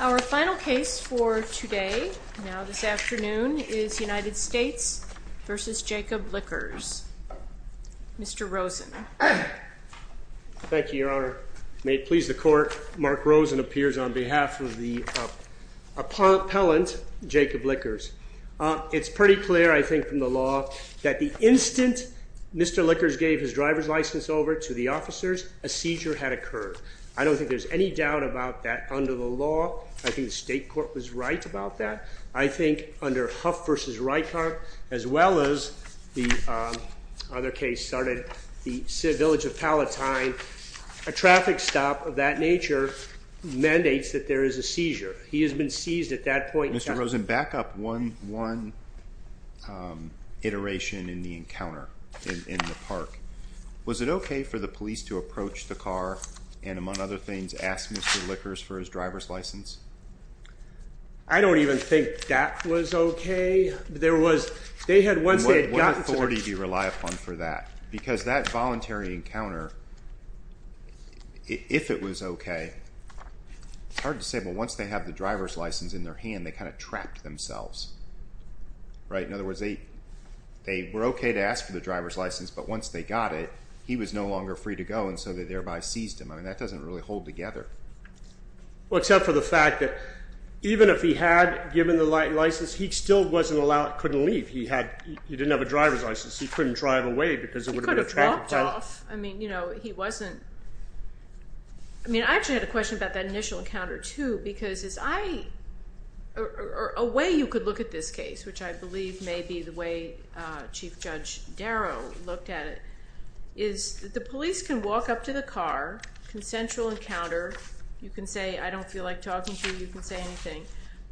Our final case for today, now this afternoon, is United States v. Jacob Lickers. Mr. Rosen. Thank you, Your Honor. May it please the Court, Mark Rosen appears on behalf of the appellant, Jacob Lickers. It's pretty clear, I think, from the law, that the instant Mr. Lickers gave his driver's license over to the officers, a seizure had occurred. I don't think there's any doubt about that under the law. I think the State Court was right about that. I think under Huff v. Reitkamp, as well as the other case started, the village of Palatine, a traffic stop of that nature mandates that there is a seizure. He has been seized at that point. Mr. Rosen, back up one iteration in the encounter in the park. Was it okay for the police to approach the car and, among other things, ask Mr. Lickers for his driver's license? I don't even think that was okay. What authority do you rely upon for that? Because that voluntary encounter, if it was okay, it's hard to say. But once they have the driver's license in their hand, they kind of trapped themselves, right? In other words, they were okay to ask for the driver's license, but once they got it, he was no longer free to go, and so they thereby seized him. I mean, that doesn't really hold together. Well, except for the fact that even if he had given the license, he still couldn't leave. He didn't have a driver's license, so he couldn't drive away because it would have been a traffic stop. He could have walked off. I mean, I actually had a question about that initial encounter, too, because a way you could look at this case, which I believe may be the way Chief Judge Darrow looked at it, is that the police can walk up to the car, consensual encounter. You can say, I don't feel like talking to you. You can say anything.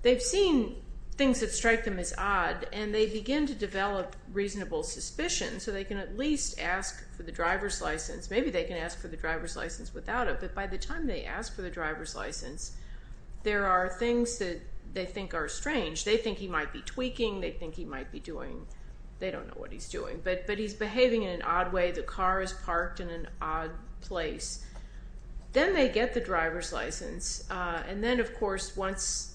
They've seen things that strike them as odd, and they begin to develop reasonable suspicion, so they can at least ask for the driver's license. Maybe they can ask for the driver's license without it, but by the time they ask for the driver's license, there are things that they think are strange. They think he might be tweaking. They think he might be doing. They don't know what he's doing, but he's behaving in an odd way. The car is parked in an odd place. Then they get the driver's license, and then, of course, once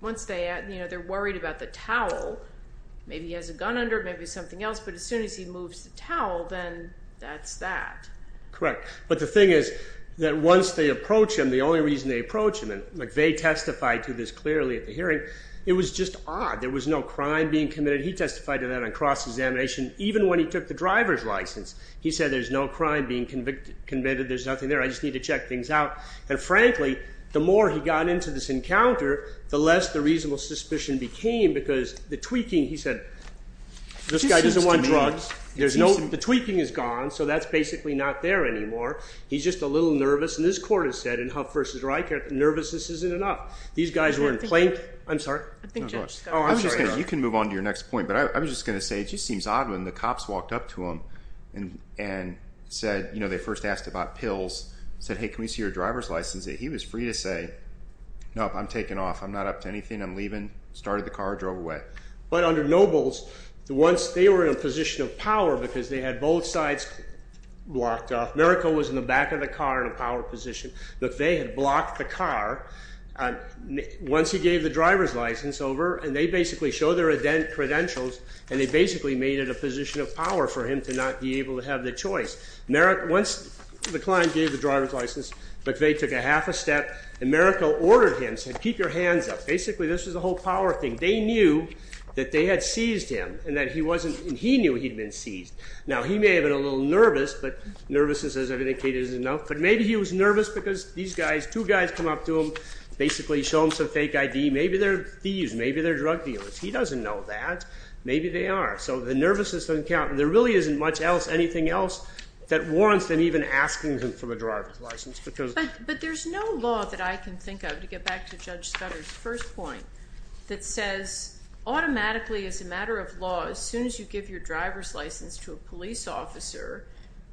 they're worried about the towel, maybe he has a gun under it, maybe something else, but as soon as he moves the towel, then that's that. Correct, but the thing is that once they approach him, the only reason they approach him, and they testified to this clearly at the hearing, it was just odd. There was no crime being committed. He testified to that on cross-examination even when he took the driver's license. He said there's no crime being committed. There's nothing there. I just need to check things out, and frankly, the more he got into this encounter, the less the reasonable suspicion became because the tweaking, he said, this guy doesn't want drugs. The tweaking is gone, so that's basically not there anymore. He's just a little nervous, and this court has said in Huff v. Reichert, nervousness isn't enough. These guys were in plain… I'm sorry. You can move on to your next point, but I was just going to say it just seems odd when the cops walked up to him and said, you know, they first asked about pills, said, hey, can we see your driver's license? He was free to say, no, I'm taking off. I'm not up to anything. I'm leaving. Started the car, drove away. But under Nobles, once they were in a position of power because they had both sides blocked off, Mariko was in the back of the car in a power position, but they had blocked the car. Once he gave the driver's license over, and they basically showed their credentials, and they basically made it a position of power for him to not be able to have the choice. Once the client gave the driver's license, McVeigh took a half a step, and Mariko ordered him, said, keep your hands up. Basically, this was a whole power thing. They knew that they had seized him and that he knew he'd been seized. Now, he may have been a little nervous, but nervousness, as I've indicated, isn't enough. But maybe he was nervous because these guys, two guys come up to him, basically show him some fake ID. Maybe they're thieves. Maybe they're drug dealers. He doesn't know that. Maybe they are. So the nervousness doesn't count. There really isn't much else, anything else that warrants them even asking him for the driver's license. But there's no law that I can think of, to get back to Judge Scudder's first point, that says automatically as a matter of law, as soon as you give your driver's license to a police officer,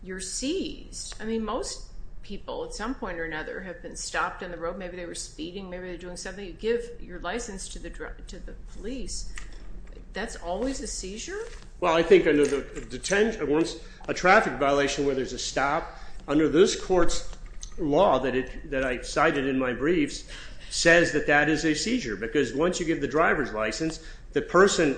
you're seized. I mean, most people at some point or another have been stopped on the road. Maybe they were speeding. Maybe they were doing something. You give your license to the police. That's always a seizure? Well, I think under the detention, once a traffic violation where there's a stop, under this court's law that I cited in my briefs says that that is a seizure because once you give the driver's license, the person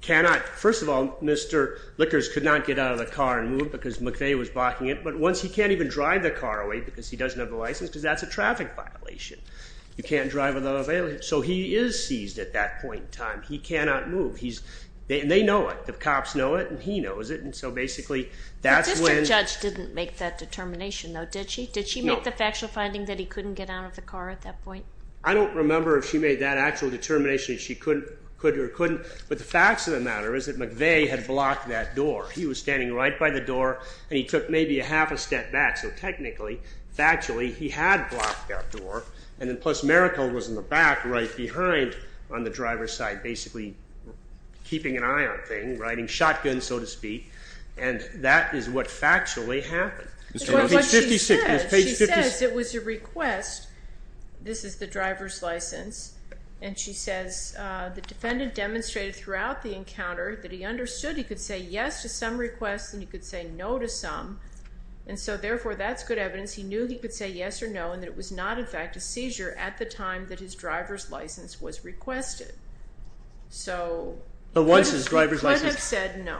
cannot, first of all, Mr. Lickers could not get out of the car and move because McVeigh was blocking it, but once he can't even drive the car away because he doesn't have a license because that's a traffic violation. You can't drive without a violation. So he is seized at that point in time. He cannot move. They know it. The cops know it, and he knows it. And so basically that's when… The district judge didn't make that determination, though, did she? No. Did she make the factual finding that he couldn't get out of the car at that point? I don't remember if she made that actual determination that she could or couldn't. But the facts of the matter is that McVeigh had blocked that door. He was standing right by the door, and he took maybe a half a step back. So technically, factually, he had blocked that door, and then plus Maracle was in the back right behind on the driver's side, basically keeping an eye on things, riding shotguns, so to speak, and that is what factually happened. But what she says, she says it was a request, this is the driver's license, and she says the defendant demonstrated throughout the encounter that he understood he could say yes to some requests and he could say no to some, and so therefore that's good evidence. He knew he could say yes or no and that it was not, in fact, a seizure at the time that his driver's license was requested. So he could have said no.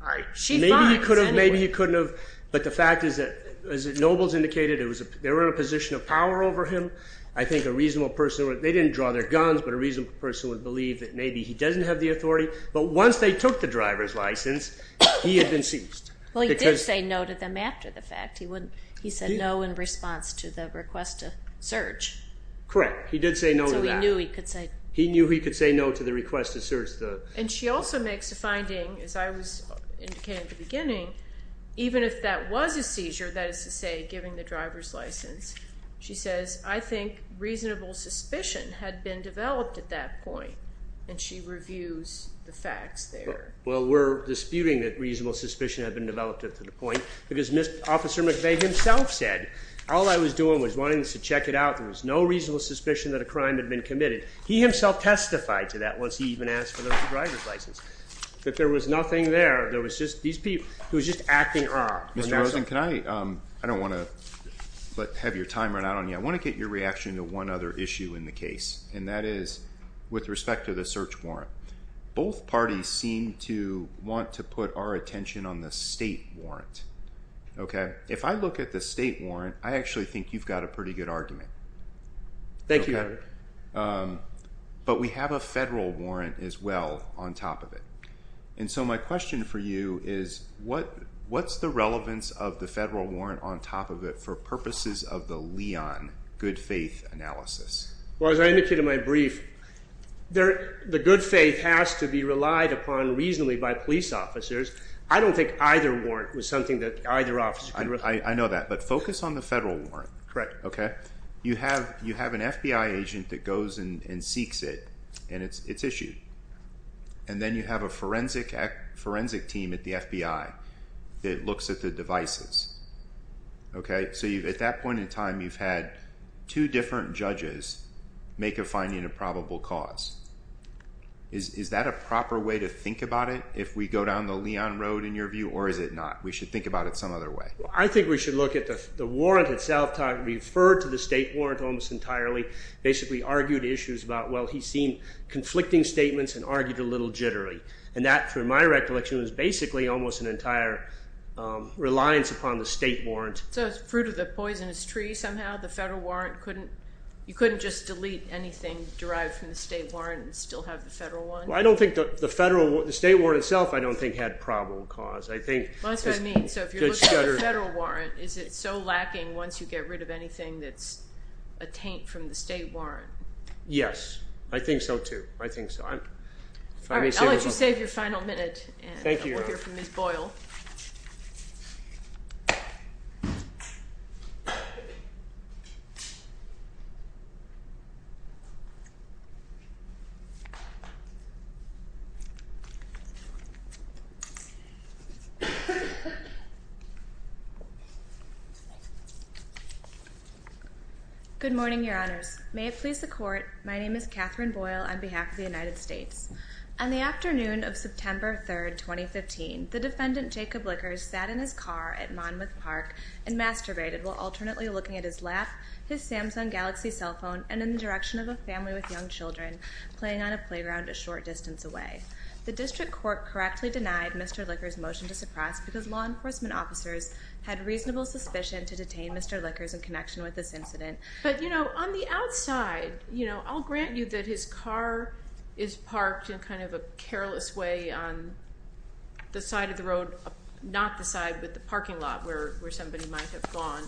All right. Maybe he couldn't have, but the fact is that as Nobles indicated, they were in a position of power over him. I think a reasonable person would, they didn't draw their guns, but a reasonable person would believe that maybe he doesn't have the authority, but once they took the driver's license, he had been seized. Well, he did say no to them after the fact. He said no in response to the request to search. Correct. He did say no to that. So he knew he could say no. He knew he could say no to the request to search. And she also makes a finding, as I was indicating at the beginning, even if that was a seizure, that is to say giving the driver's license, she says, I think reasonable suspicion had been developed at that point, and she reviews the facts there. Well, we're disputing that reasonable suspicion had been developed up to the point, because Officer McVeigh himself said, all I was doing was wanting us to check it out. There was no reasonable suspicion that a crime had been committed. He himself testified to that once he even asked for the driver's license, that there was nothing there. There was just these people. He was just acting off. Mr. Rosen, I don't want to have your time run out on you. I want to get your reaction to one other issue in the case, and that is with respect to the search warrant. Both parties seem to want to put our attention on the state warrant. If I look at the state warrant, I actually think you've got a pretty good argument. Thank you. But we have a federal warrant as well on top of it. And so my question for you is what's the relevance of the federal warrant on top of it for purposes of the Leon good faith analysis? Well, as I indicated in my brief, the good faith has to be relied upon reasonably by police officers. I don't think either warrant was something that either officer could recommend. I know that, but focus on the federal warrant. Correct. You have an FBI agent that goes and seeks it, and it's issued. And then you have a forensic team at the FBI that looks at the devices. Okay? So at that point in time, you've had two different judges make a finding of probable cause. Is that a proper way to think about it if we go down the Leon road in your view, or is it not? We should think about it some other way. I think we should look at the warrant itself. I referred to the state warrant almost entirely, basically argued issues about, well, he's seen conflicting statements and argued a little jittery. And that, to my recollection, was basically almost an entire reliance upon the state warrant. So it's fruit of the poisonous tree somehow. The federal warrant couldn't, you couldn't just delete anything derived from the state warrant and still have the federal one? Well, I don't think the state warrant itself I don't think had probable cause. That's what I mean. So if you're looking at the federal warrant, is it so lacking once you get rid of anything that's a taint from the state warrant? Yes. I think so, too. I think so. All right. I'll let you save your final minute and we'll hear from Ms. Boyle. Thank you, Your Honor. Good morning, Your Honors. May it please the Court, my name is Katherine Boyle on behalf of the United States. On the afternoon of September 3, 2015, the defendant Jacob Lickers sat in his car at Monmouth Park and masturbated while alternately looking at his lap, his Samsung Galaxy cell phone, and in the direction of a family with young children playing on a playground a short distance away. The district court correctly denied Mr. Lickers' motion to suppress because law enforcement officers had reasonable suspicion to detain Mr. Lickers in connection with this incident. But, you know, on the outside, you know, I'll grant you that his car is parked in kind of a careless way on the side of the road, not the side with the parking lot where somebody might have gone,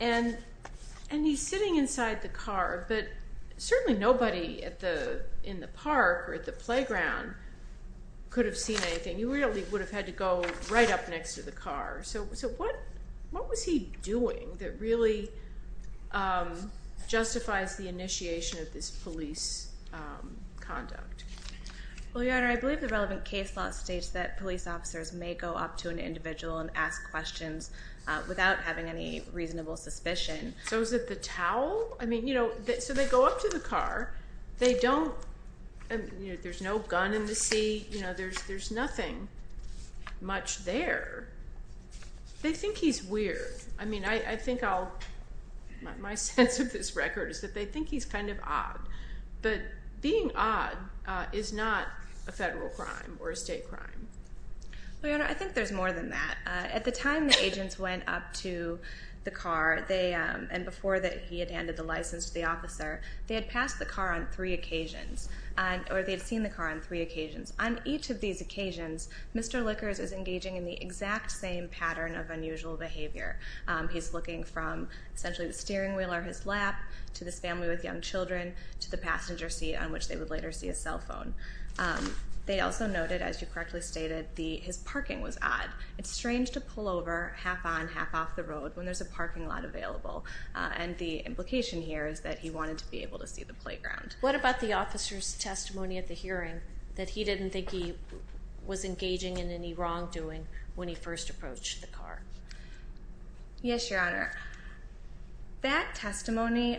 and he's sitting inside the car, but certainly nobody in the park or at the playground could have seen anything. You really would have had to go right up next to the car. So what was he doing that really justifies the initiation of this police conduct? Well, Your Honor, I believe the relevant case law states that police officers may go up to an individual and ask questions without having any reasonable suspicion. So is it the towel? I mean, you know, so they go up to the car. They don't, you know, there's no gun in the seat. You know, there's nothing much there. They think he's weird. I mean, I think I'll, my sense of this record is that they think he's kind of odd. But being odd is not a federal crime or a state crime. Well, Your Honor, I think there's more than that. At the time the agents went up to the car and before he had handed the license to the officer, they had passed the car on three occasions, or they had seen the car on three occasions. On each of these occasions, Mr. Lickers is engaging in the exact same pattern of unusual behavior. He's looking from essentially the steering wheel or his lap to this family with young children to the passenger seat on which they would later see his cell phone. They also noted, as you correctly stated, his parking was odd. It's strange to pull over half on, half off the road when there's a parking lot available. And the implication here is that he wanted to be able to see the playground. What about the officer's testimony at the hearing that he didn't think he was engaging in any wrongdoing when he first approached the car? Yes, Your Honor. That testimony,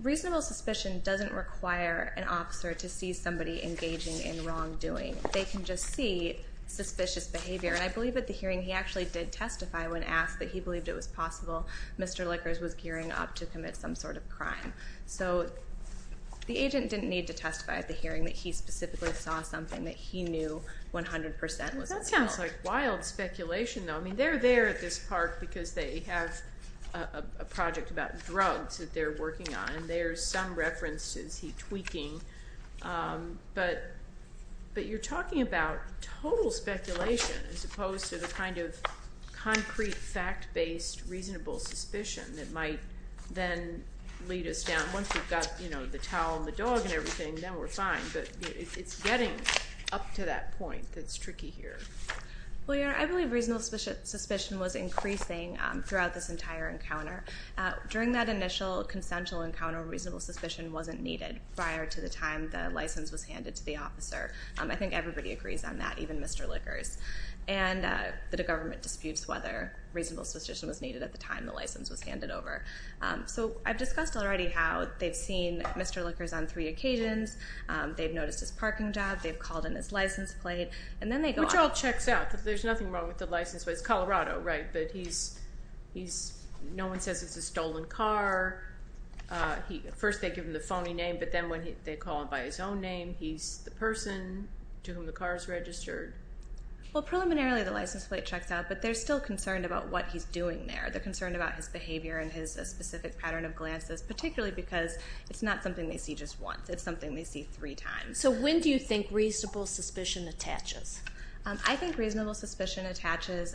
reasonable suspicion doesn't require an officer to see somebody engaging in wrongdoing. They can just see suspicious behavior. And I believe at the hearing he actually did testify when asked that he believed it was possible Mr. Lickers was gearing up to commit some sort of crime. So the agent didn't need to testify at the hearing that he specifically saw something that he knew 100% was wrong. That sounds like wild speculation, though. I mean, they're there at this park because they have a project about drugs that they're working on, and there's some references he's tweaking. But you're talking about total speculation as opposed to the kind of concrete fact-based reasonable suspicion that might then lead us down. Once we've got the towel and the dog and everything, then we're fine. But it's getting up to that point that's tricky here. Well, Your Honor, I believe reasonable suspicion was increasing throughout this entire encounter. During that initial consensual encounter, reasonable suspicion wasn't needed prior to the time the license was handed to the officer. I think everybody agrees on that, even Mr. Lickers. And the government disputes whether reasonable suspicion was needed at the time the license was handed over. So I've discussed already how they've seen Mr. Lickers on three occasions. They've noticed his parking job. They've called in his license plate. Which all checks out. There's nothing wrong with the license plate. It's Colorado, right? No one says it's a stolen car. First they give him the phony name, but then when they call him by his own name, he's the person to whom the car is registered. Well, preliminarily the license plate checks out, but they're still concerned about what he's doing there. They're concerned about his behavior and his specific pattern of glances, particularly because it's not something they see just once. It's something they see three times. So when do you think reasonable suspicion attaches? I think reasonable suspicion attaches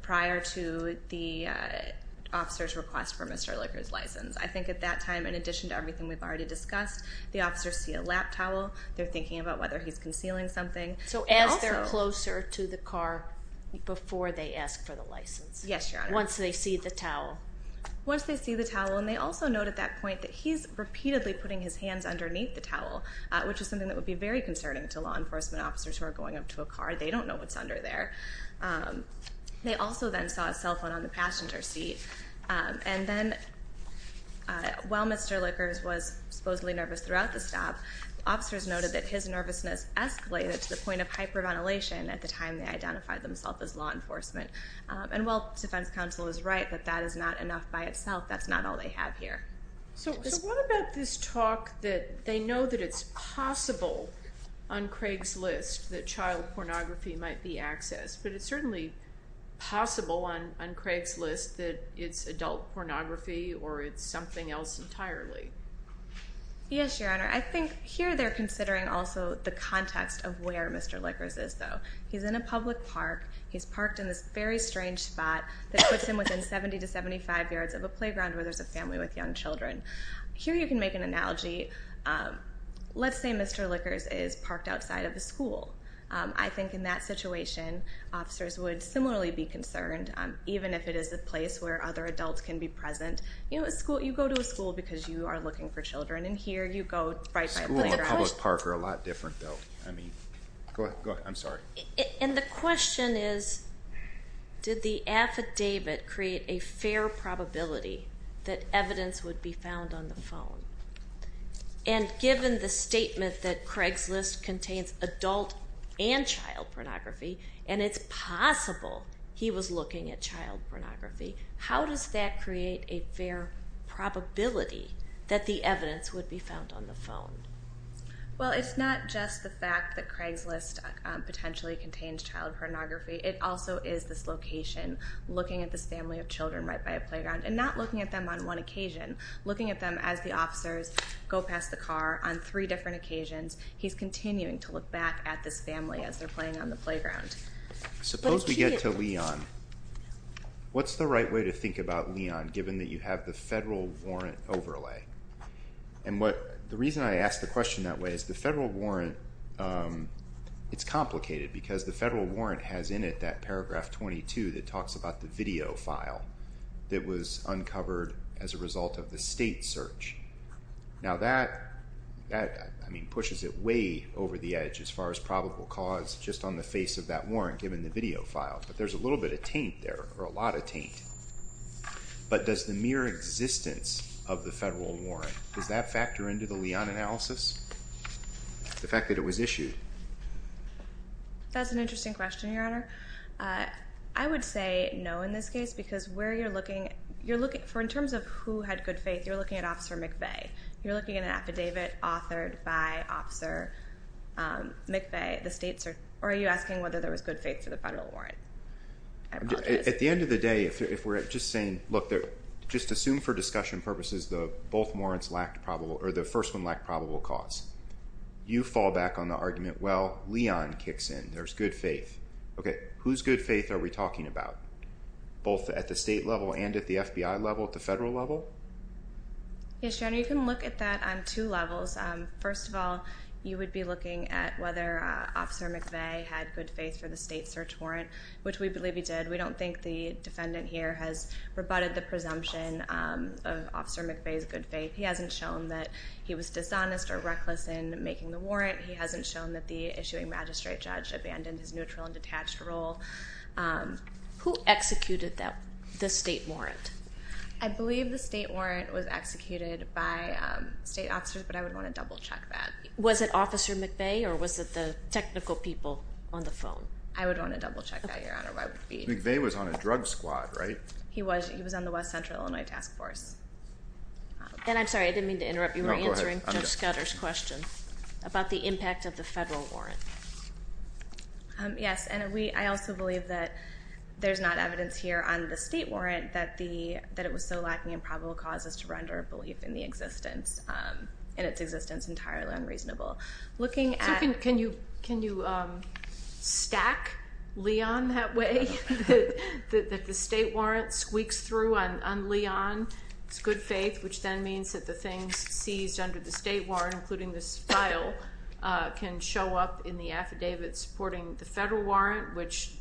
prior to the officer's request for Mr. Lickers' license. I think at that time, in addition to everything we've already discussed, the officers see a lap towel. They're thinking about whether he's concealing something. So as they're closer to the car before they ask for the license? Yes, Your Honor. Once they see the towel? Once they see the towel. And they also note at that point that he's repeatedly putting his hands underneath the towel, which is something that would be very concerning to law enforcement officers who are going up to a car. They don't know what's under there. They also then saw a cell phone on the passenger seat. And then while Mr. Lickers was supposedly nervous throughout the stop, officers noted that his nervousness escalated to the point of hyperventilation at the time they identified themselves as law enforcement. And while defense counsel is right that that is not enough by itself, that's not all they have here. So what about this talk that they know that it's possible on Craig's List that child pornography might be accessed, but it's certainly possible on Craig's List that it's adult pornography or it's something else entirely? Yes, Your Honor. I think here they're considering also the context of where Mr. Lickers is, though. He's in a public park. He's parked in this very strange spot that puts him within 70 to 75 yards of a playground where there's a family with young children. Here you can make an analogy. Let's say Mr. Lickers is parked outside of a school. I think in that situation officers would similarly be concerned, even if it is a place where other adults can be present. You go to a school because you are looking for children, and here you go right by a playground. Schools and public parks are a lot different, though. Go ahead. I'm sorry. And the question is, did the affidavit create a fair probability that evidence would be found on the phone? And given the statement that Craig's List contains adult and child pornography, and it's possible he was looking at child pornography, how does that create a fair probability that the evidence would be found on the phone? Well, it's not just the fact that Craig's List potentially contains child pornography. It also is this location, looking at this family of children right by a playground, and not looking at them on one occasion, looking at them as the officers go past the car on three different occasions. He's continuing to look back at this family as they're playing on the playground. Suppose we get to Leon. What's the right way to think about Leon, given that you have the federal warrant overlay? And the reason I ask the question that way is the federal warrant, it's complicated because the federal warrant has in it that paragraph 22 that talks about the video file that was uncovered as a result of the state search. Now, that, I mean, pushes it way over the edge as far as probable cause, just on the face of that warrant given the video file. But there's a little bit of taint there, or a lot of taint. But does the mere existence of the federal warrant, does that factor into the Leon analysis? The fact that it was issued? That's an interesting question, Your Honor. I would say no in this case because where you're looking, you're looking, in terms of who had good faith, you're looking at Officer McVeigh. You're looking at an affidavit authored by Officer McVeigh. The state search, or are you asking whether there was good faith for the federal warrant? I apologize. At the end of the day, if we're just saying, look, just assume for discussion purposes that both warrants lacked probable, or the first one lacked probable cause. You fall back on the argument, well, Leon kicks in. There's good faith. Okay, whose good faith are we talking about? Both at the state level and at the FBI level, at the federal level? Yes, Your Honor, you can look at that on two levels. First of all, you would be looking at whether Officer McVeigh had good faith for the state search warrant, which we believe he did. We don't think the defendant here has rebutted the presumption of Officer McVeigh's good faith. He hasn't shown that he was dishonest or reckless in making the warrant. He hasn't shown that the issuing magistrate judge abandoned his neutral and detached role. Who executed the state warrant? I believe the state warrant was executed by state officers, but I would want to double-check that. Was it Officer McVeigh, or was it the technical people on the phone? I would want to double-check that, Your Honor. McVeigh was on a drug squad, right? He was on the West Central Illinois Task Force. And I'm sorry, I didn't mean to interrupt. You were answering Judge Scudder's question about the impact of the federal warrant. Yes, and I also believe that there's not evidence here on the state warrant that it was so lacking in probable causes to render a belief in its existence entirely unreasonable. So can you stack Leon that way, that the state warrant squeaks through on Leon? It's good faith, which then means that the things seized under the state warrant, including this file, can show up in the affidavit supporting the federal warrant, which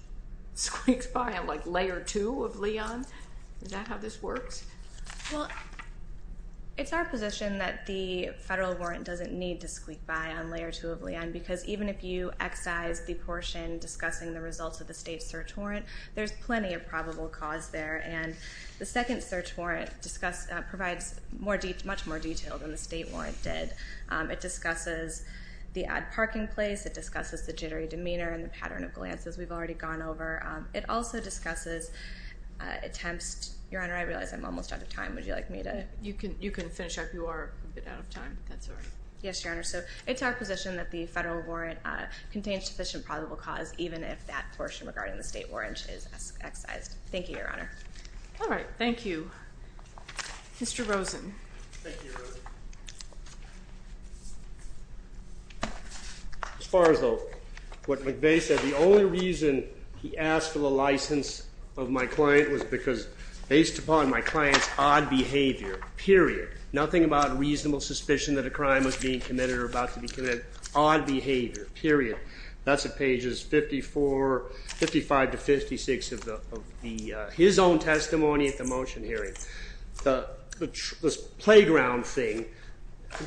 squeaks by on, like, Layer 2 of Leon. Is that how this works? Well, it's our position that the federal warrant doesn't need to squeak by on Layer 2 of Leon because even if you excise the portion discussing the results of the state search warrant, there's plenty of probable cause there. And the second search warrant provides much more detail than the state warrant did. It discusses the odd parking place. It discusses the jittery demeanor and the pattern of glances we've already gone over. It also discusses attempts. Your Honor, I realize I'm almost out of time. Would you like me to? You can finish up. You are a bit out of time. That's all right. Yes, Your Honor. So it's our position that the federal warrant contains sufficient probable cause even if that portion regarding the state warrant is excised. Thank you, Your Honor. All right. Thank you. Mr. Rosen. Thank you, Your Honor. As far as what McVeigh said, the only reason he asked for the license of my client was because based upon my client's odd behavior, period, nothing about reasonable suspicion that a crime was being committed or about to be committed, odd behavior, period. That's at pages 54, 55 to 56 of his own testimony at the motion hearing. This playground thing,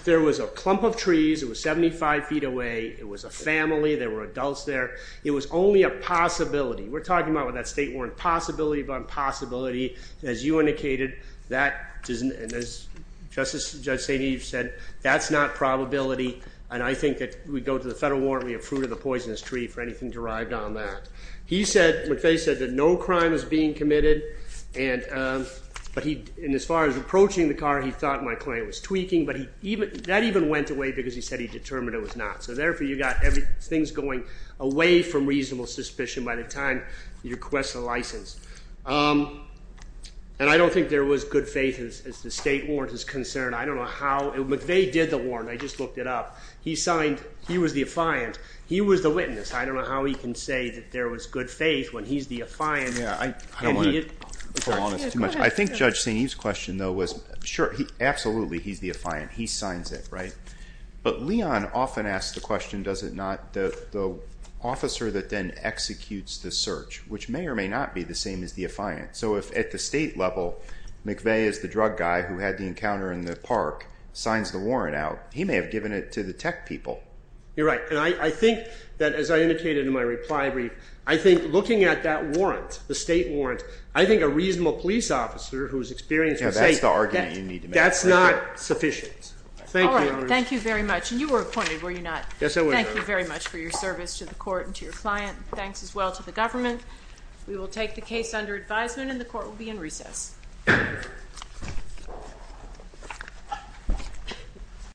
there was a clump of trees. It was 75 feet away. It was a family. There were adults there. It was only a possibility. We're talking about with that state warrant possibility upon possibility. As you indicated, and as Judge St. Eve said, that's not probability. And I think that if we go to the federal warrant, we have fruit of the poisonous tree for anything derived on that. McVeigh said that no crime is being committed. And as far as approaching the car, he thought my client was tweaking. But that even went away because he said he determined it was not. So, therefore, you've got things going away from reasonable suspicion by the time you request the license. And I don't think there was good faith as the state warrant is concerned. I don't know how. McVeigh did the warrant. I just looked it up. He signed. He was the affiant. He was the witness. I don't know how he can say that there was good faith when he's the affiant. Yeah, I don't want to prolong this too much. I think Judge St. Eve's question, though, was, sure, absolutely he's the affiant. He signs it, right? But Leon often asks the question, does it not, the officer that then executes the search, which may or may not be the same as the affiant. So if at the state level McVeigh is the drug guy who had the encounter in the office, he may have given it to the tech people. You're right. And I think that, as I indicated in my reply brief, I think looking at that warrant, the state warrant, I think a reasonable police officer whose experience was safe. That's the argument you need to make. That's not sufficient. Thank you. Thank you very much. And you were appointed, were you not? Yes, I was. Thank you very much for your service to the court and to your client. Thanks as well to the government. We will take the case under advisement and the court will be in recess.